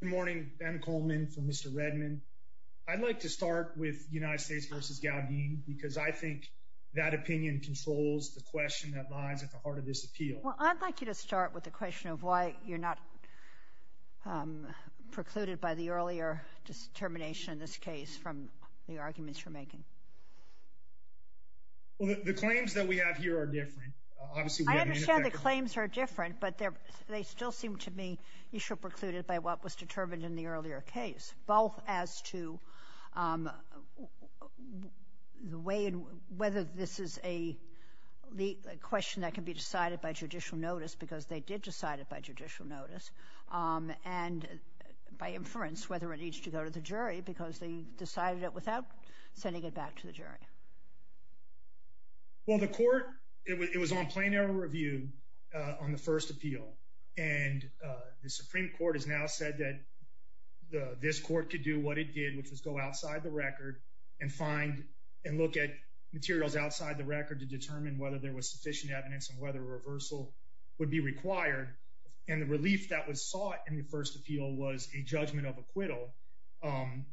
Good morning, Anna Coleman for Mr. Redmond. I'd like to start with United States v. Gaudin because I think that opinion controls the question that lies at the heart of this appeal. Well, I'd like you to start with the question of why you're not precluded by the earlier determination in this case from the arguments you're making. The claims that we have here are different. Obviously, we have a manufacturer. I understand the claims are different, but they still seem to be issue precluded by what was determined in the earlier case, both as to whether this is a question that can be decided by judicial notice, because they did decide it by judicial notice, and by inference whether it needs to go to the jury because they decided it without sending it back to the jury. Well, the court, it was on plenary review on the first appeal, and the Supreme Court has now said that this court could do what it did, which was go outside the record and find and look at materials outside the record to determine whether there was sufficient evidence and whether a reversal would be required, and the relief that was sought in the first appeal was a judgment of acquittal.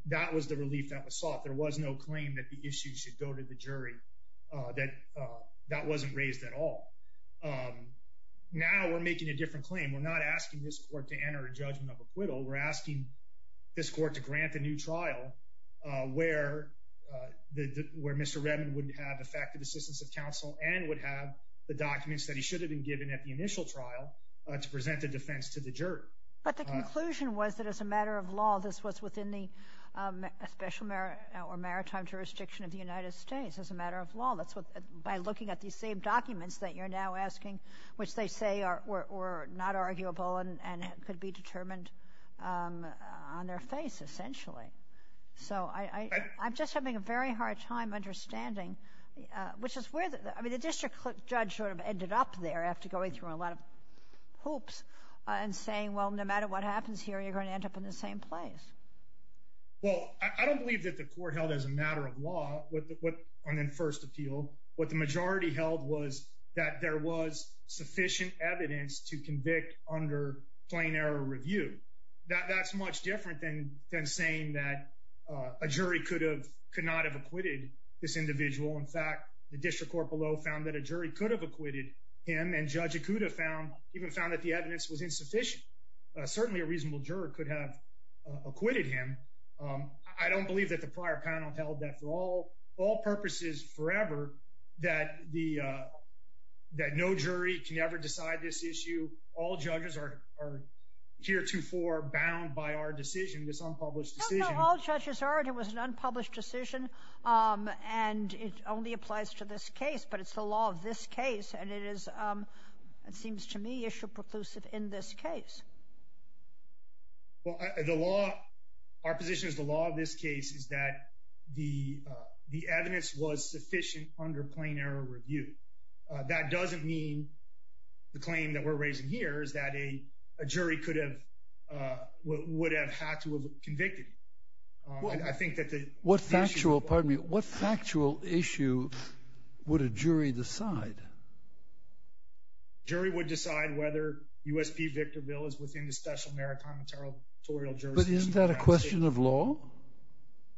That was the relief that was sought. There was no claim that the issue should go to the jury, that that wasn't raised at all. Now, we're making a different claim. We're not asking this court to enter a judgment of acquittal. We're asking this court to grant the new trial where Mr. Redman would have effective assistance of counsel and would have the documents that he should have been given at the initial trial to present the defense to the jury. But the conclusion was that as a matter of law, this was within the special or maritime jurisdiction of the United States as a matter of law. By looking at these same documents that you're now asking, which they say were not arguable and could be determined on their face, essentially. So, I'm just having a very hard time understanding, which is where the district judge sort of ended up there after going through a lot of hoops and saying, well, no matter what happens here, you're going to end up in the same place. Well, I don't believe that the court held as a matter of law what, on the first appeal, what the majority held was that there was sufficient evidence to convict under plain error review. That's much different than saying that a jury could have, could not have acquitted this individual. In fact, the district court below found that a jury could have acquitted him and Judge Ikuda found, even found that the evidence was insufficient. Certainly a reasonable juror could have acquitted him. I don't believe that the prior panel held that for all purposes forever, that the, that no jury can ever decide this issue. All judges are heretofore bound by our decision, this unpublished decision. No, no, all judges are. It was an unpublished decision and it only applies to this case, but it's the law of this case and it is, it seems to me, issue preclusive in this case. Well, the law, our position is the law of this case is that the, the evidence was sufficient under plain error review. That doesn't mean the claim that we're raising here is that a jury could have, would have had to have convicted him. I think that the... What factual, pardon me, what factual issue would a jury decide? Jury would decide whether USP Victorville is within the special meritorial jurisdiction. But isn't that a question of law?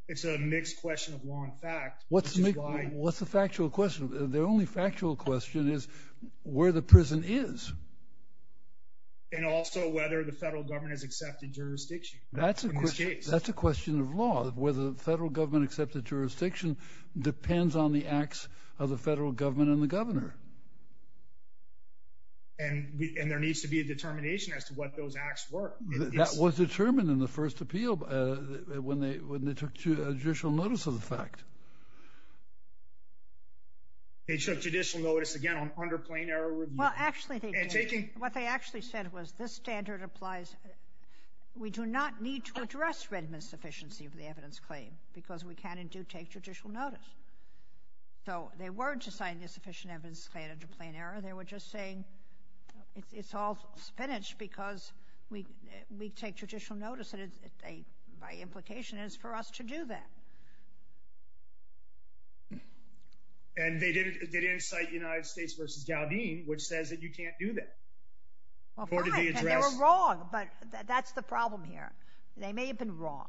It's a mixed question of law and fact. What's the, what's the factual question? The only factual question is where the prison is. And also whether the federal government has accepted jurisdiction. That's a question, that's a question of law. Whether the federal government accepted jurisdiction depends on the acts of the federal government and the governor. And we, and there needs to be a determination as to what those acts were. That was determined in the first appeal when they, when they took judicial notice of the fact. They took judicial notice again on under plain error review. Well, actually, what they actually said was this standard applies. We do not need to address written insufficiency of the evidence claim because we can and do take judicial notice. So they weren't assigning insufficient evidence claim under plain error. They were just saying it's all spinach because we, we take judicial notice. And it's a, by implication is for us to do that. And they didn't, they didn't cite United States versus Dowdene, which says that you can't do that. Well, fine, and they were wrong, but that's the problem here. They may have been wrong,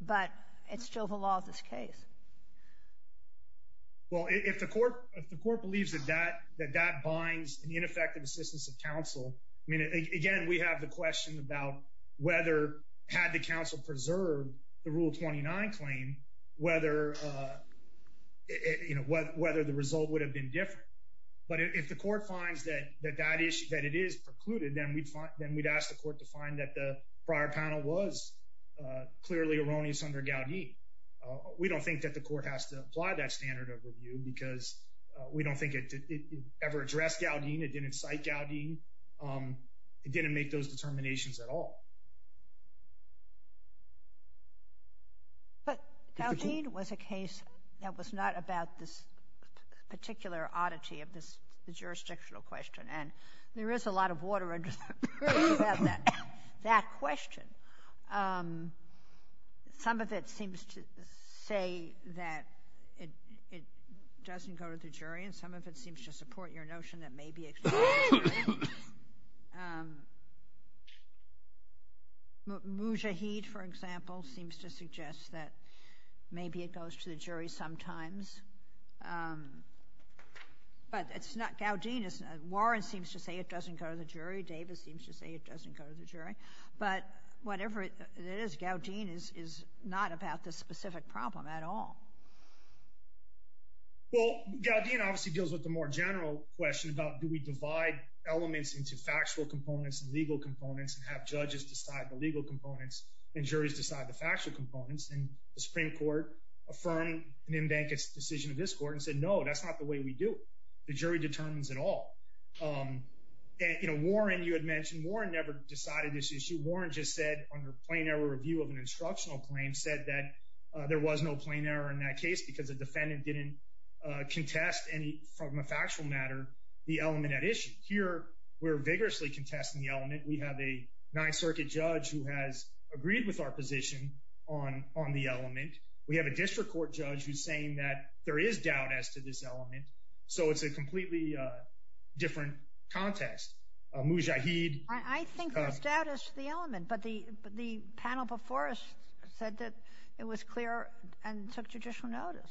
but it's still the law of this case. Well, if the court, if the court believes that that, that that binds an ineffective assistance of counsel, I mean, again, we have the question about whether had the counsel preserved the Rule 29 claim, whether, you know, whether the result would have been different. But if the court finds that, that that issue, that it is precluded, then we'd find, then we'd ask the court to find that the prior panel was clearly erroneous under Dowdene. We don't think that the court has to apply that standard of review because we don't think it ever addressed Dowdene. It didn't cite Dowdene. It didn't make those determinations at all. But Dowdene was a case that was not about this particular oddity of this, the jurisdictional question, and there is a lot of water under the bridge about that, that question. Some of it seems to say that it, it doesn't go to the jury, and some of it seems to support your notion that maybe it's true. Mujahid, for example, seems to suggest that maybe it goes to the jury sometimes. But it's not, Dowdene is, Warren seems to say it doesn't go to the jury. Davis seems to say it doesn't go to the jury. But whatever it is, Dowdene is not about this specific problem at all. Well, Dowdene obviously deals with the more general question about do we divide elements into factual components and legal components and have judges decide the legal components and juries decide the factual components? And the Supreme Court affirmed Nimbanka's decision of this court and said, no, that's not the way we do it. The jury determines it all. And, you know, Warren, you had mentioned, Warren never decided this issue. Warren just said, under plain error review of an instructional claim, said that there was no plain error in that case because the defendant didn't contest any, from a factual matter, the element at issue. Here, we're vigorously contesting the element. We have a Ninth Circuit judge who has agreed with our position on the element. We have a district court judge who's saying that there is doubt as to this element. So it's a completely different contest. Mujahid. I think there's doubt as to the element. But the panel before us said that it was clear and took judicial notice.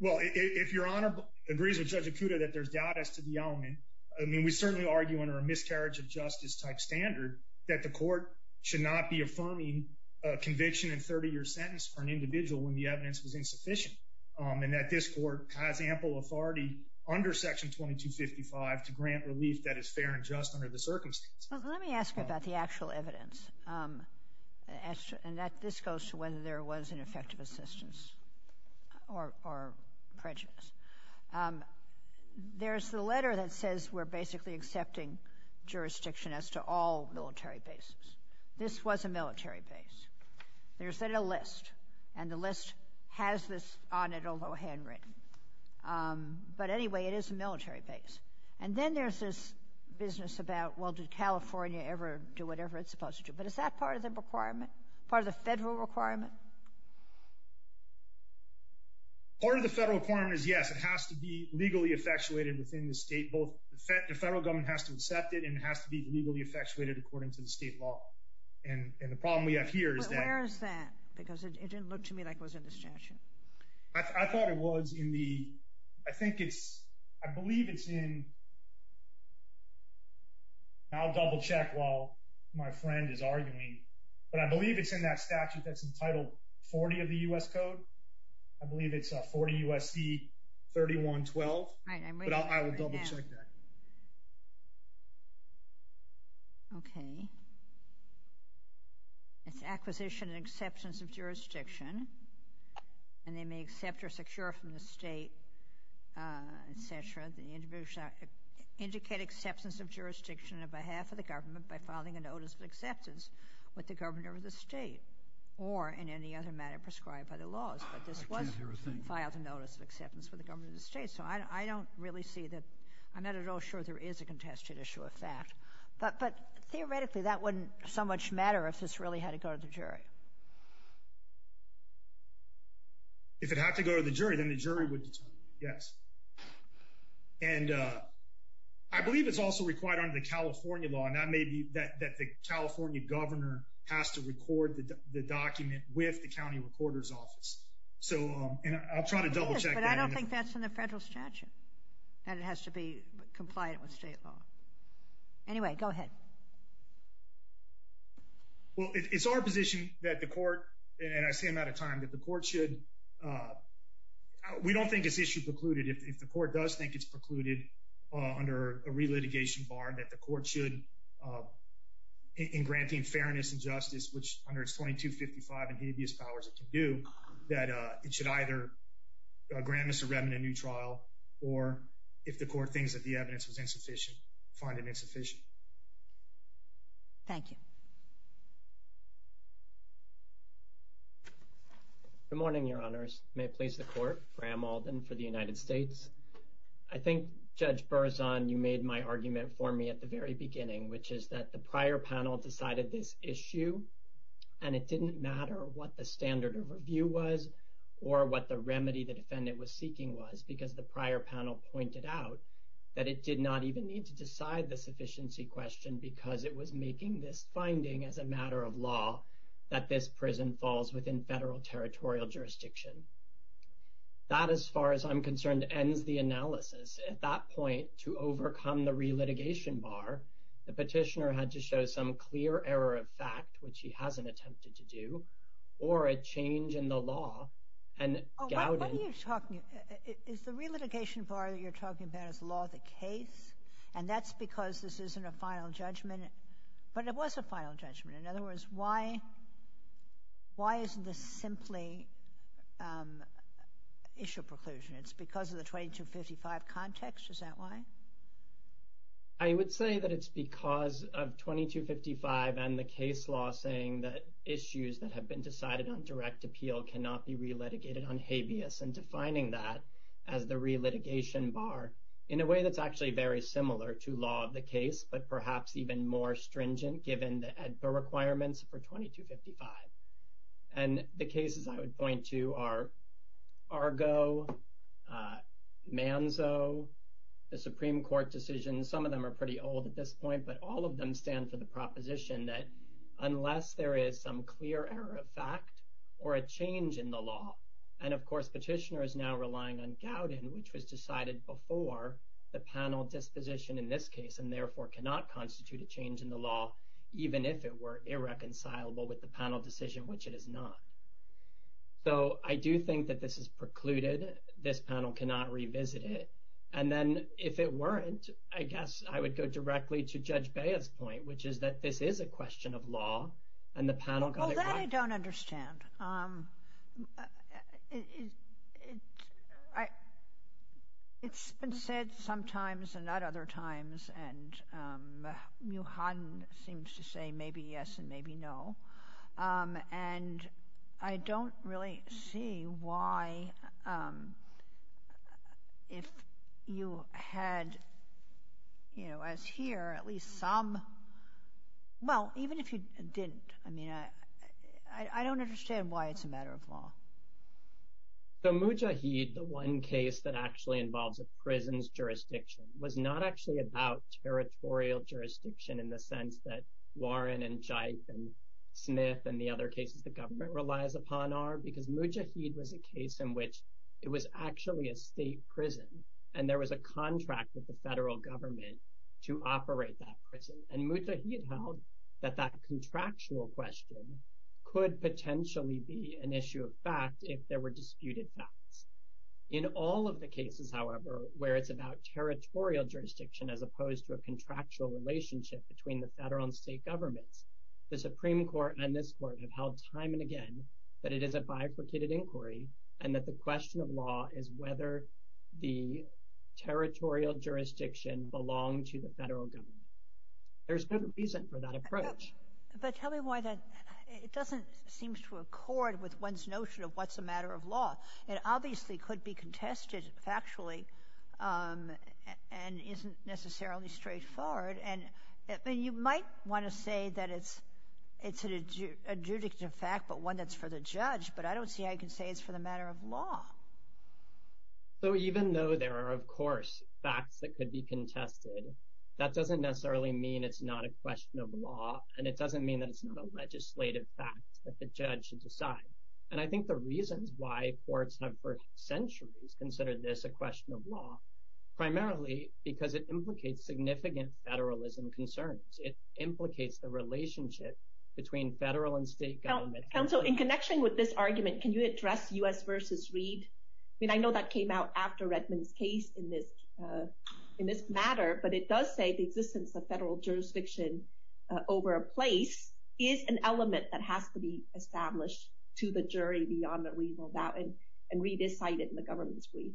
Well, if your Honor agrees with Judge Acuda that there's doubt as to the element, I mean, we certainly argue under a miscarriage of justice type standard that the court should not be affirming a conviction and 30-year sentence for an individual when the evidence was insufficient and that this court has ample authority under Section 2255 to grant relief that is fair and just under the circumstance. Well, let me ask you about the actual evidence. And this goes to whether there was an effective assistance or prejudice. There's the letter that says we're basically accepting jurisdiction as to all military bases. This was a military base. There's a list. And the list has this on it, although handwritten. But anyway, it is a military base. And then there's this business about, well, did California ever do whatever it's supposed to? But is that part of the requirement, part of the federal requirement? Part of the federal requirement is yes, it has to be legally effectuated within the state, both the federal government has to accept it and it has to be legally effectuated according to the state law. And the problem we have here is that. But where is that? Because it didn't look to me like it was in the statute. I thought it was in the, I think it's, I believe it's in, I'll double check while my friend is arguing, but I believe it's in that statute that's entitled 40 of the U.S. Code. I believe it's a 40 U.S.C. 3112. But I will double check that. Okay. It's acquisition and acceptance of jurisdiction. And they may accept or secure from the state, et cetera. The individual should indicate acceptance of jurisdiction on behalf of the government by filing a notice of acceptance with the governor of the state or in any other manner prescribed by the laws. But this was filed a notice of acceptance for the government of the state. So I don't really see that, I'm not at all sure there is a contested issue of that. But theoretically, that wouldn't so much matter if this really had to go to the jury. If it had to go to the jury, then the jury would determine, yes. And I believe it's also required under the California law, and that may be that the California governor has to record the document with the county recorder's office. So, and I'll try to double check that. But I don't think that's in the federal statute and it has to be compliant with state law. Anyway, go ahead. Well, it's our position that the court, and I say I'm out of time, that the court should, we don't think it's issue precluded. If the court does think it's precluded under a re-litigation bar, that the court should, in granting fairness and justice, which under its 2255 and habeas powers it can do, that it should either grant Mr. Remen a new trial or if the court thinks that the evidence was insufficient, find it insufficient. Thank you. Good morning, Your Honors. May it please the court, Graham Alden for the United States. I think, Judge Berzon, you made my argument for me at the very beginning, which is that the prior panel decided this issue and it didn't matter what the standard of review was or what the remedy the prior panel pointed out, that it did not even need to decide the sufficiency question because it was making this finding as a matter of law that this prison falls within federal territorial jurisdiction. That, as far as I'm concerned, ends the analysis. At that point, to overcome the re-litigation bar, the petitioner had to show some clear error of fact, which he talked about as law of the case, and that's because this isn't a final judgment, but it was a final judgment. In other words, why isn't this simply issue preclusion? It's because of the 2255 context? Is that why? I would say that it's because of 2255 and the case law saying that issues that have been decided on bar in a way that's actually very similar to law of the case, but perhaps even more stringent given the requirements for 2255. The cases I would point to are Argo, Manzo, the Supreme Court decision. Some of them are pretty old at this point, but all of them stand for the proposition that unless there is some clear error of fact or a change in the law, and of course, before the panel disposition in this case, and therefore cannot constitute a change in the law, even if it were irreconcilable with the panel decision, which it is not. So, I do think that this is precluded. This panel cannot revisit it, and then if it weren't, I guess I would go directly to Judge Bea's point, which is that this is a question of law, and the panel got it right. Oh, that I don't understand. It's been said sometimes and not other times, and Muhammad seems to say maybe yes and maybe no, and I don't really see why if you had, you know, as here, at least some, well, even if you didn't, I mean, I don't understand why it's a matter of law. So, Mujahid, the one case that actually involves a prison's jurisdiction, was not actually about territorial jurisdiction in the sense that Warren and Jyth and Smith and the other cases the government relies upon are, because Mujahid was a case in which it was actually a state prison, and there was a contract with the federal government to operate that prison, and Mujahid held that that contractual question could potentially be an issue of fact if there were disputed facts. In all of the cases, however, where it's about territorial jurisdiction as opposed to a contractual relationship between the federal and state governments, the Supreme Court and this court have held time and again that it is a bifurcated inquiry and that the question of law is whether the territorial jurisdiction belonged to the federal government. There's no reason for that approach. But tell me why that, it doesn't seem to accord with one's notion of what's a matter of law. It obviously could be contested factually and isn't necessarily straightforward, and you might want to say that it's a judicative fact, but one that's for the judge, but I don't see how you can say it's for the matter of law. So even though there are, of course, facts that could be contested, that doesn't necessarily mean it's not a question of law, and it doesn't mean that it's not a legislative fact that the judge should decide. And I think the reasons why courts have for centuries considered this a question of law, primarily because it implicates significant federalism concerns. It implicates the relationship between federal and state government. Counsel, in connection with this argument, can you address U.S. versus Reed? I mean, I know that came out after Redmond's case in this matter, but it does say the existence of federal jurisdiction over a place is an element that has to be established to the jury beyond what we know about, and Reed is cited in the government's brief.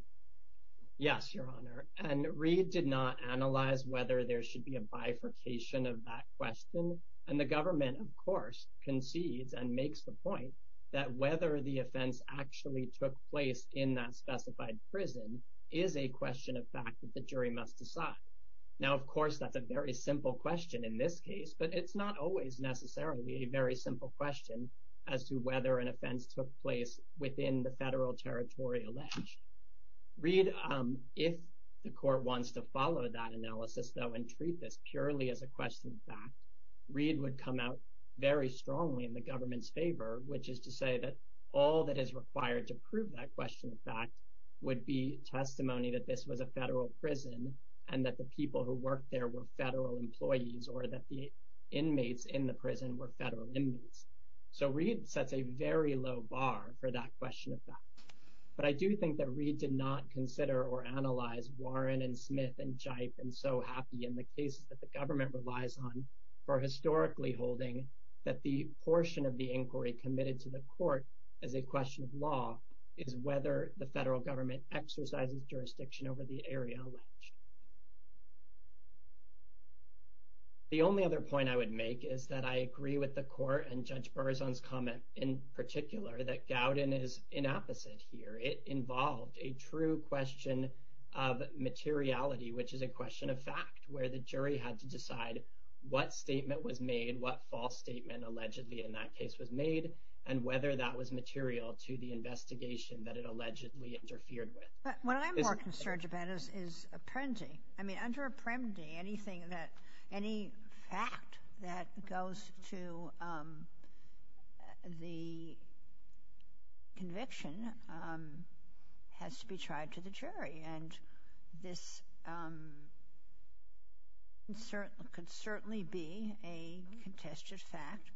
Yes, Your Honor, and Reed did not analyze whether there should be a bifurcation of that question, and the government, of course, concedes and makes the point that whether the offense actually took place in that specified prison is a question of fact that the jury must decide. Now, of course, that's a very simple question in this case, but it's not always necessarily a very simple question as to whether an offense took place within the federal territorial ledge. Reed, if the court wants to follow that analysis, though, and treat this purely as a question of fact, Reed would come out very strongly in the government's favor, which is to say that all that is required to prove that question of fact would be testimony that this was a federal prison and that the people who worked there were federal employees or that the inmates in the prison were federal inmates. So, Reed sets a very low bar for that question of fact, but I do think that Reed did not consider or analyze Warren and Smith and Jipe and so happy in the cases that the government relies on for historically holding that the portion of the inquiry committed to the court as a question of law is whether the federal government exercises jurisdiction over the area. The only other point I would make is that I agree with the court and Judge Berzon's comment in particular that Gowden is in opposite here. It involved a true question of materiality, which is a question of fact, where the jury had to decide what statement was made, what false statement allegedly in that case was made, and whether that was material to the investigation that it allegedly interfered with. But what I'm more concerned about is appending. I mean, anything that—any fact that goes to the conviction has to be tried to the jury, and this could certainly be a contested fact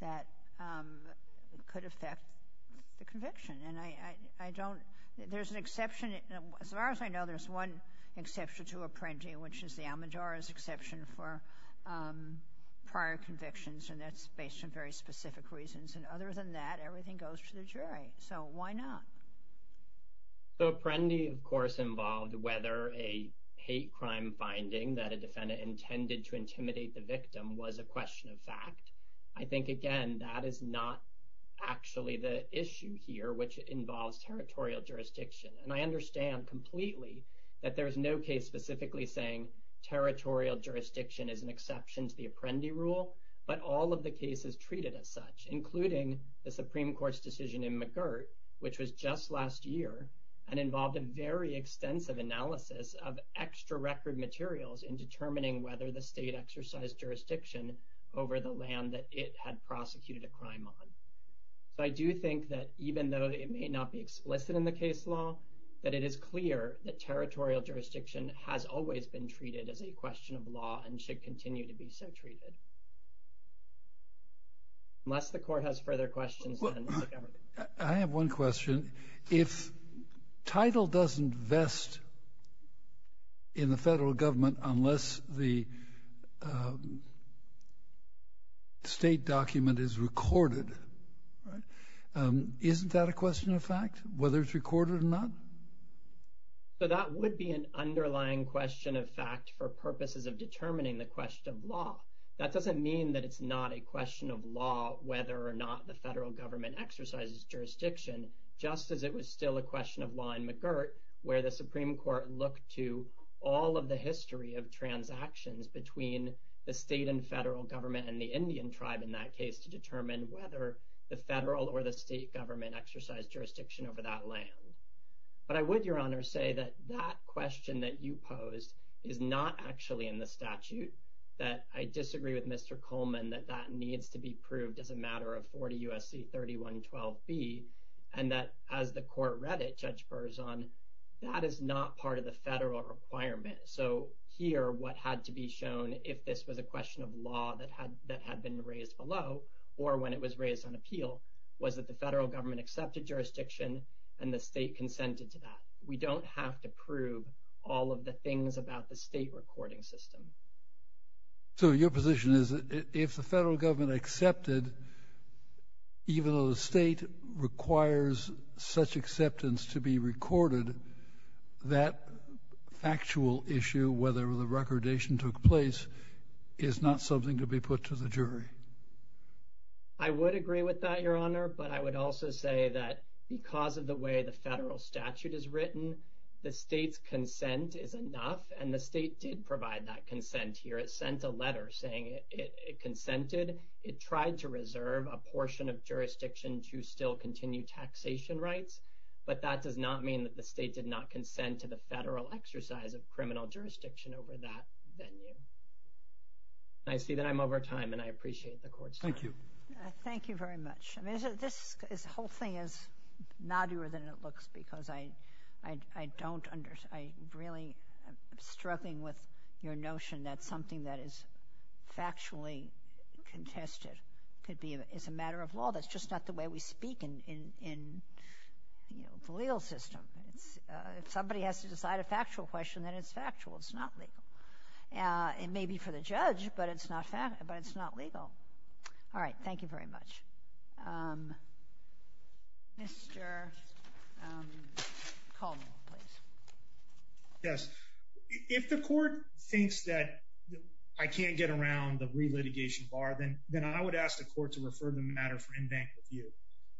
that could affect the conviction. And I don't—there's an exception. As far as I know, there's one exception to appending, which is the Almedara's exception for prior convictions, and that's based on very specific reasons. And other than that, everything goes to the jury. So why not? So appending, of course, involved whether a hate crime finding that a defendant intended to intimidate the victim was a question of fact. I think, again, that is not actually the issue here, which involves territorial jurisdiction. And I understand completely that there is no case specifically saying territorial jurisdiction is an exception to the Apprendi rule, but all of the cases treated as such, including the Supreme Court's decision in McGirt, which was just last year and involved a very extensive analysis of extra record materials in determining whether the state exercised jurisdiction over the land that it had prosecuted a crime on. So I do think that even though it may not be explicit in the case law, that it is clear that territorial jurisdiction has always been treated as a question of law and should continue to be so treated, unless the court has further questions. I have one question. If title doesn't vest in the federal government unless the state document is recorded, isn't that a question of fact, whether it's recorded or not? So that would be an underlying question of fact for purposes of determining the question of law. That doesn't mean that it's not a question of law whether or not the federal government exercises jurisdiction, just as it was still a question of law in McGirt, where the Supreme Court looked to all of the history of transactions between the state and federal government and the Indian tribe in that case to determine whether the federal or the state government exercised jurisdiction over that land. But I would, Your Honor, say that that question that you posed is not actually in the statute, that I disagree with Mr. Coleman that that needs to be proved as a matter of 40 U.S.C. 3112B, and that as the court read it, Judge Berzon, that is not part of the federal requirement. So here, what had to be shown if this was a question of law that had been raised below, or when it was raised on appeal, was that the federal government accepted jurisdiction and the state consented to that. We don't have to prove all of the things about the state recording system. So your position is that if the federal government accepted jurisdiction, even though the state requires such acceptance to be recorded, that factual issue, whether the recordation took place, is not something to be put to the jury. I would agree with that, Your Honor. But I would also say that because of the way the federal statute is written, the state's consent is enough. And the state did provide that consent here. It consented. It tried to reserve a portion of jurisdiction to still continue taxation rights, but that does not mean that the state did not consent to the federal exercise of criminal jurisdiction over that venue. And I see that I'm over time, and I appreciate the court's time. Thank you. Thank you very much. I mean, this whole thing is noddier than it looks because I don't understand. I really am struggling with your notion that something that is factually contested could be, is a matter of law. That's just not the way we speak in the legal system. If somebody has to decide a factual question, then it's factual. It's not legal. It may be for the judge, but it's not legal. All right. Thank you very much. Mr. Coleman, please. Yes. If the court thinks that I can't get around the re-litigation bar, then I would ask the court to refer the matter for in-bank review.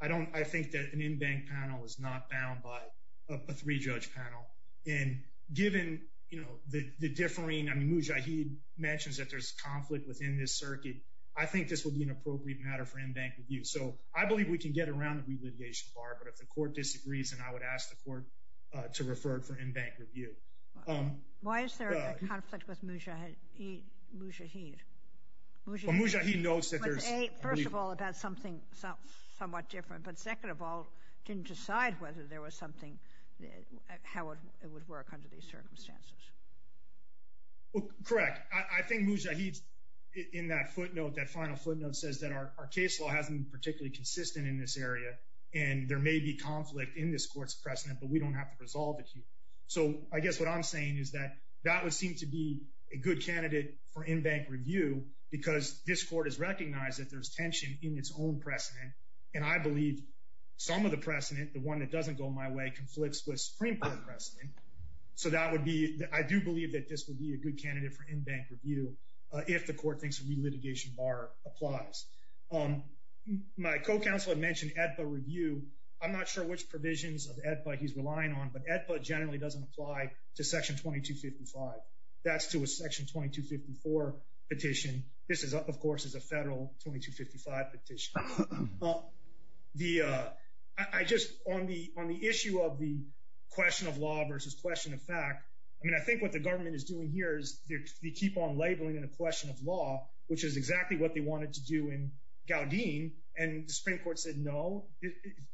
I think that an in-bank panel is not bound by a three-judge panel. And given the differing, I mean, Mujahid mentions that there's conflict within this circuit. I think this would be an appropriate matter for in-bank review. So I believe we can get around the re-litigation bar, but if the court disagrees, then I would ask the court to refer it for in-bank review. Why is there a conflict with Mujahid? Well, Mujahid notes that there's... First of all, about something somewhat different, but second of all, didn't decide whether there was something, how it would work under these circumstances. Mujahid, in that footnote, that final footnote says that our case law hasn't been particularly consistent in this area, and there may be conflict in this court's precedent, but we don't have to resolve it here. So I guess what I'm saying is that that would seem to be a good candidate for in-bank review, because this court has recognized that there's tension in its own precedent. And I believe some of the precedent, the one that doesn't go my way, conflicts with Supreme Court precedent. So that would be... I do believe that this would be a good candidate for in-bank review if the court thinks re-litigation bar applies. My co-counselor mentioned AEDPA review. I'm not sure which provisions of AEDPA he's relying on, but AEDPA generally doesn't apply to section 2255. That's to a section 2254 petition. This is, of course, is a federal 2255 petition. I just... On the issue of the question of law versus question of fact, I mean, I think what the government is doing here is they keep on labeling it a question of law, which is exactly what they wanted to do in Gowdean, and the Supreme Court said, no,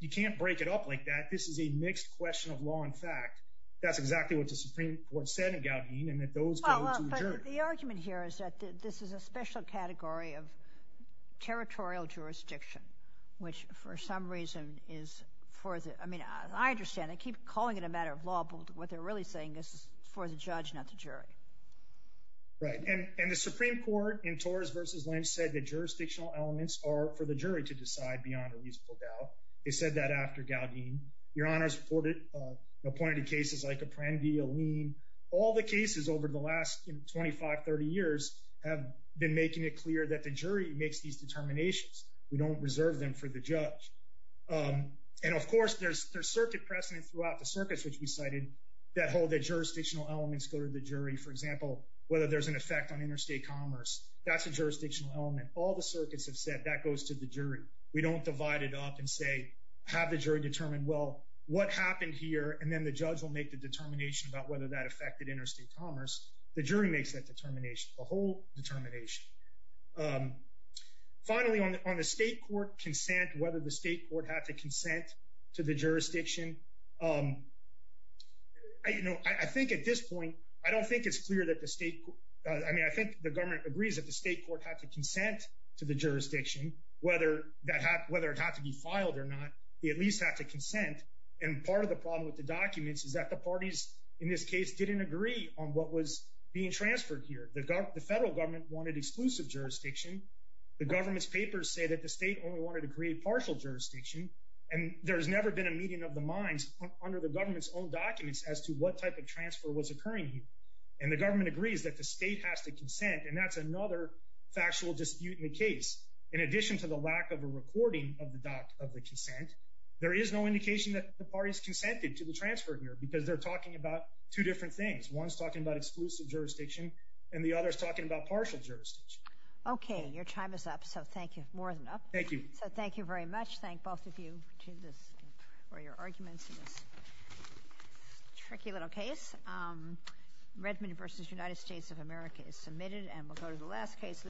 you can't break it up like that. This is a mixed question of law and fact. That's exactly what the Supreme Court said in Gowdean, and that those go to a jury. Well, but the argument here is that this is a special category of territorial jurisdiction, which for some reason is for the... I understand. They keep calling it a matter of law, but what they're really saying is this is for the judge, not the jury. Right, and the Supreme Court in Torres versus Lynch said that jurisdictional elements are for the jury to decide beyond a reasonable doubt. They said that after Gowdean. Your Honor's reported appointed cases like a Prenn v. Alene. All the cases over the last 25, 30 years have been making it clear that the jury makes these circuit precedents throughout the circuits which we cited that hold that jurisdictional elements go to the jury. For example, whether there's an effect on interstate commerce. That's a jurisdictional element. All the circuits have said that goes to the jury. We don't divide it up and say, have the jury determine, well, what happened here, and then the judge will make the determination about whether that affected interstate commerce. The jury makes that determination, the whole determination. Finally, on the state court consent, whether the state court had to consent to the jurisdiction. You know, I think at this point, I don't think it's clear that the state, I mean, I think the government agrees that the state court had to consent to the jurisdiction, whether that had whether it had to be filed or not, we at least have to consent. And part of the problem with the documents is that the parties in this case didn't agree on what was being transferred here. The federal government wanted exclusive jurisdiction. The government's papers say that the state only wanted to create partial jurisdiction. And there has never been a meeting of the minds under the government's own documents as to what type of transfer was occurring here. And the government agrees that the state has to consent. And that's another factual dispute in the case. In addition to the lack of a recording of the doc of the consent, there is no indication that the parties consented to the transfer here because they're talking about two different things. One's talking about exclusive jurisdiction, and the other is partial jurisdiction. Okay, your time is up. So thank you more than enough. Thank you. So thank you very much. Thank both of you for your arguments in this tricky little case. Redmond versus United States of America is submitted and we'll go to the last case.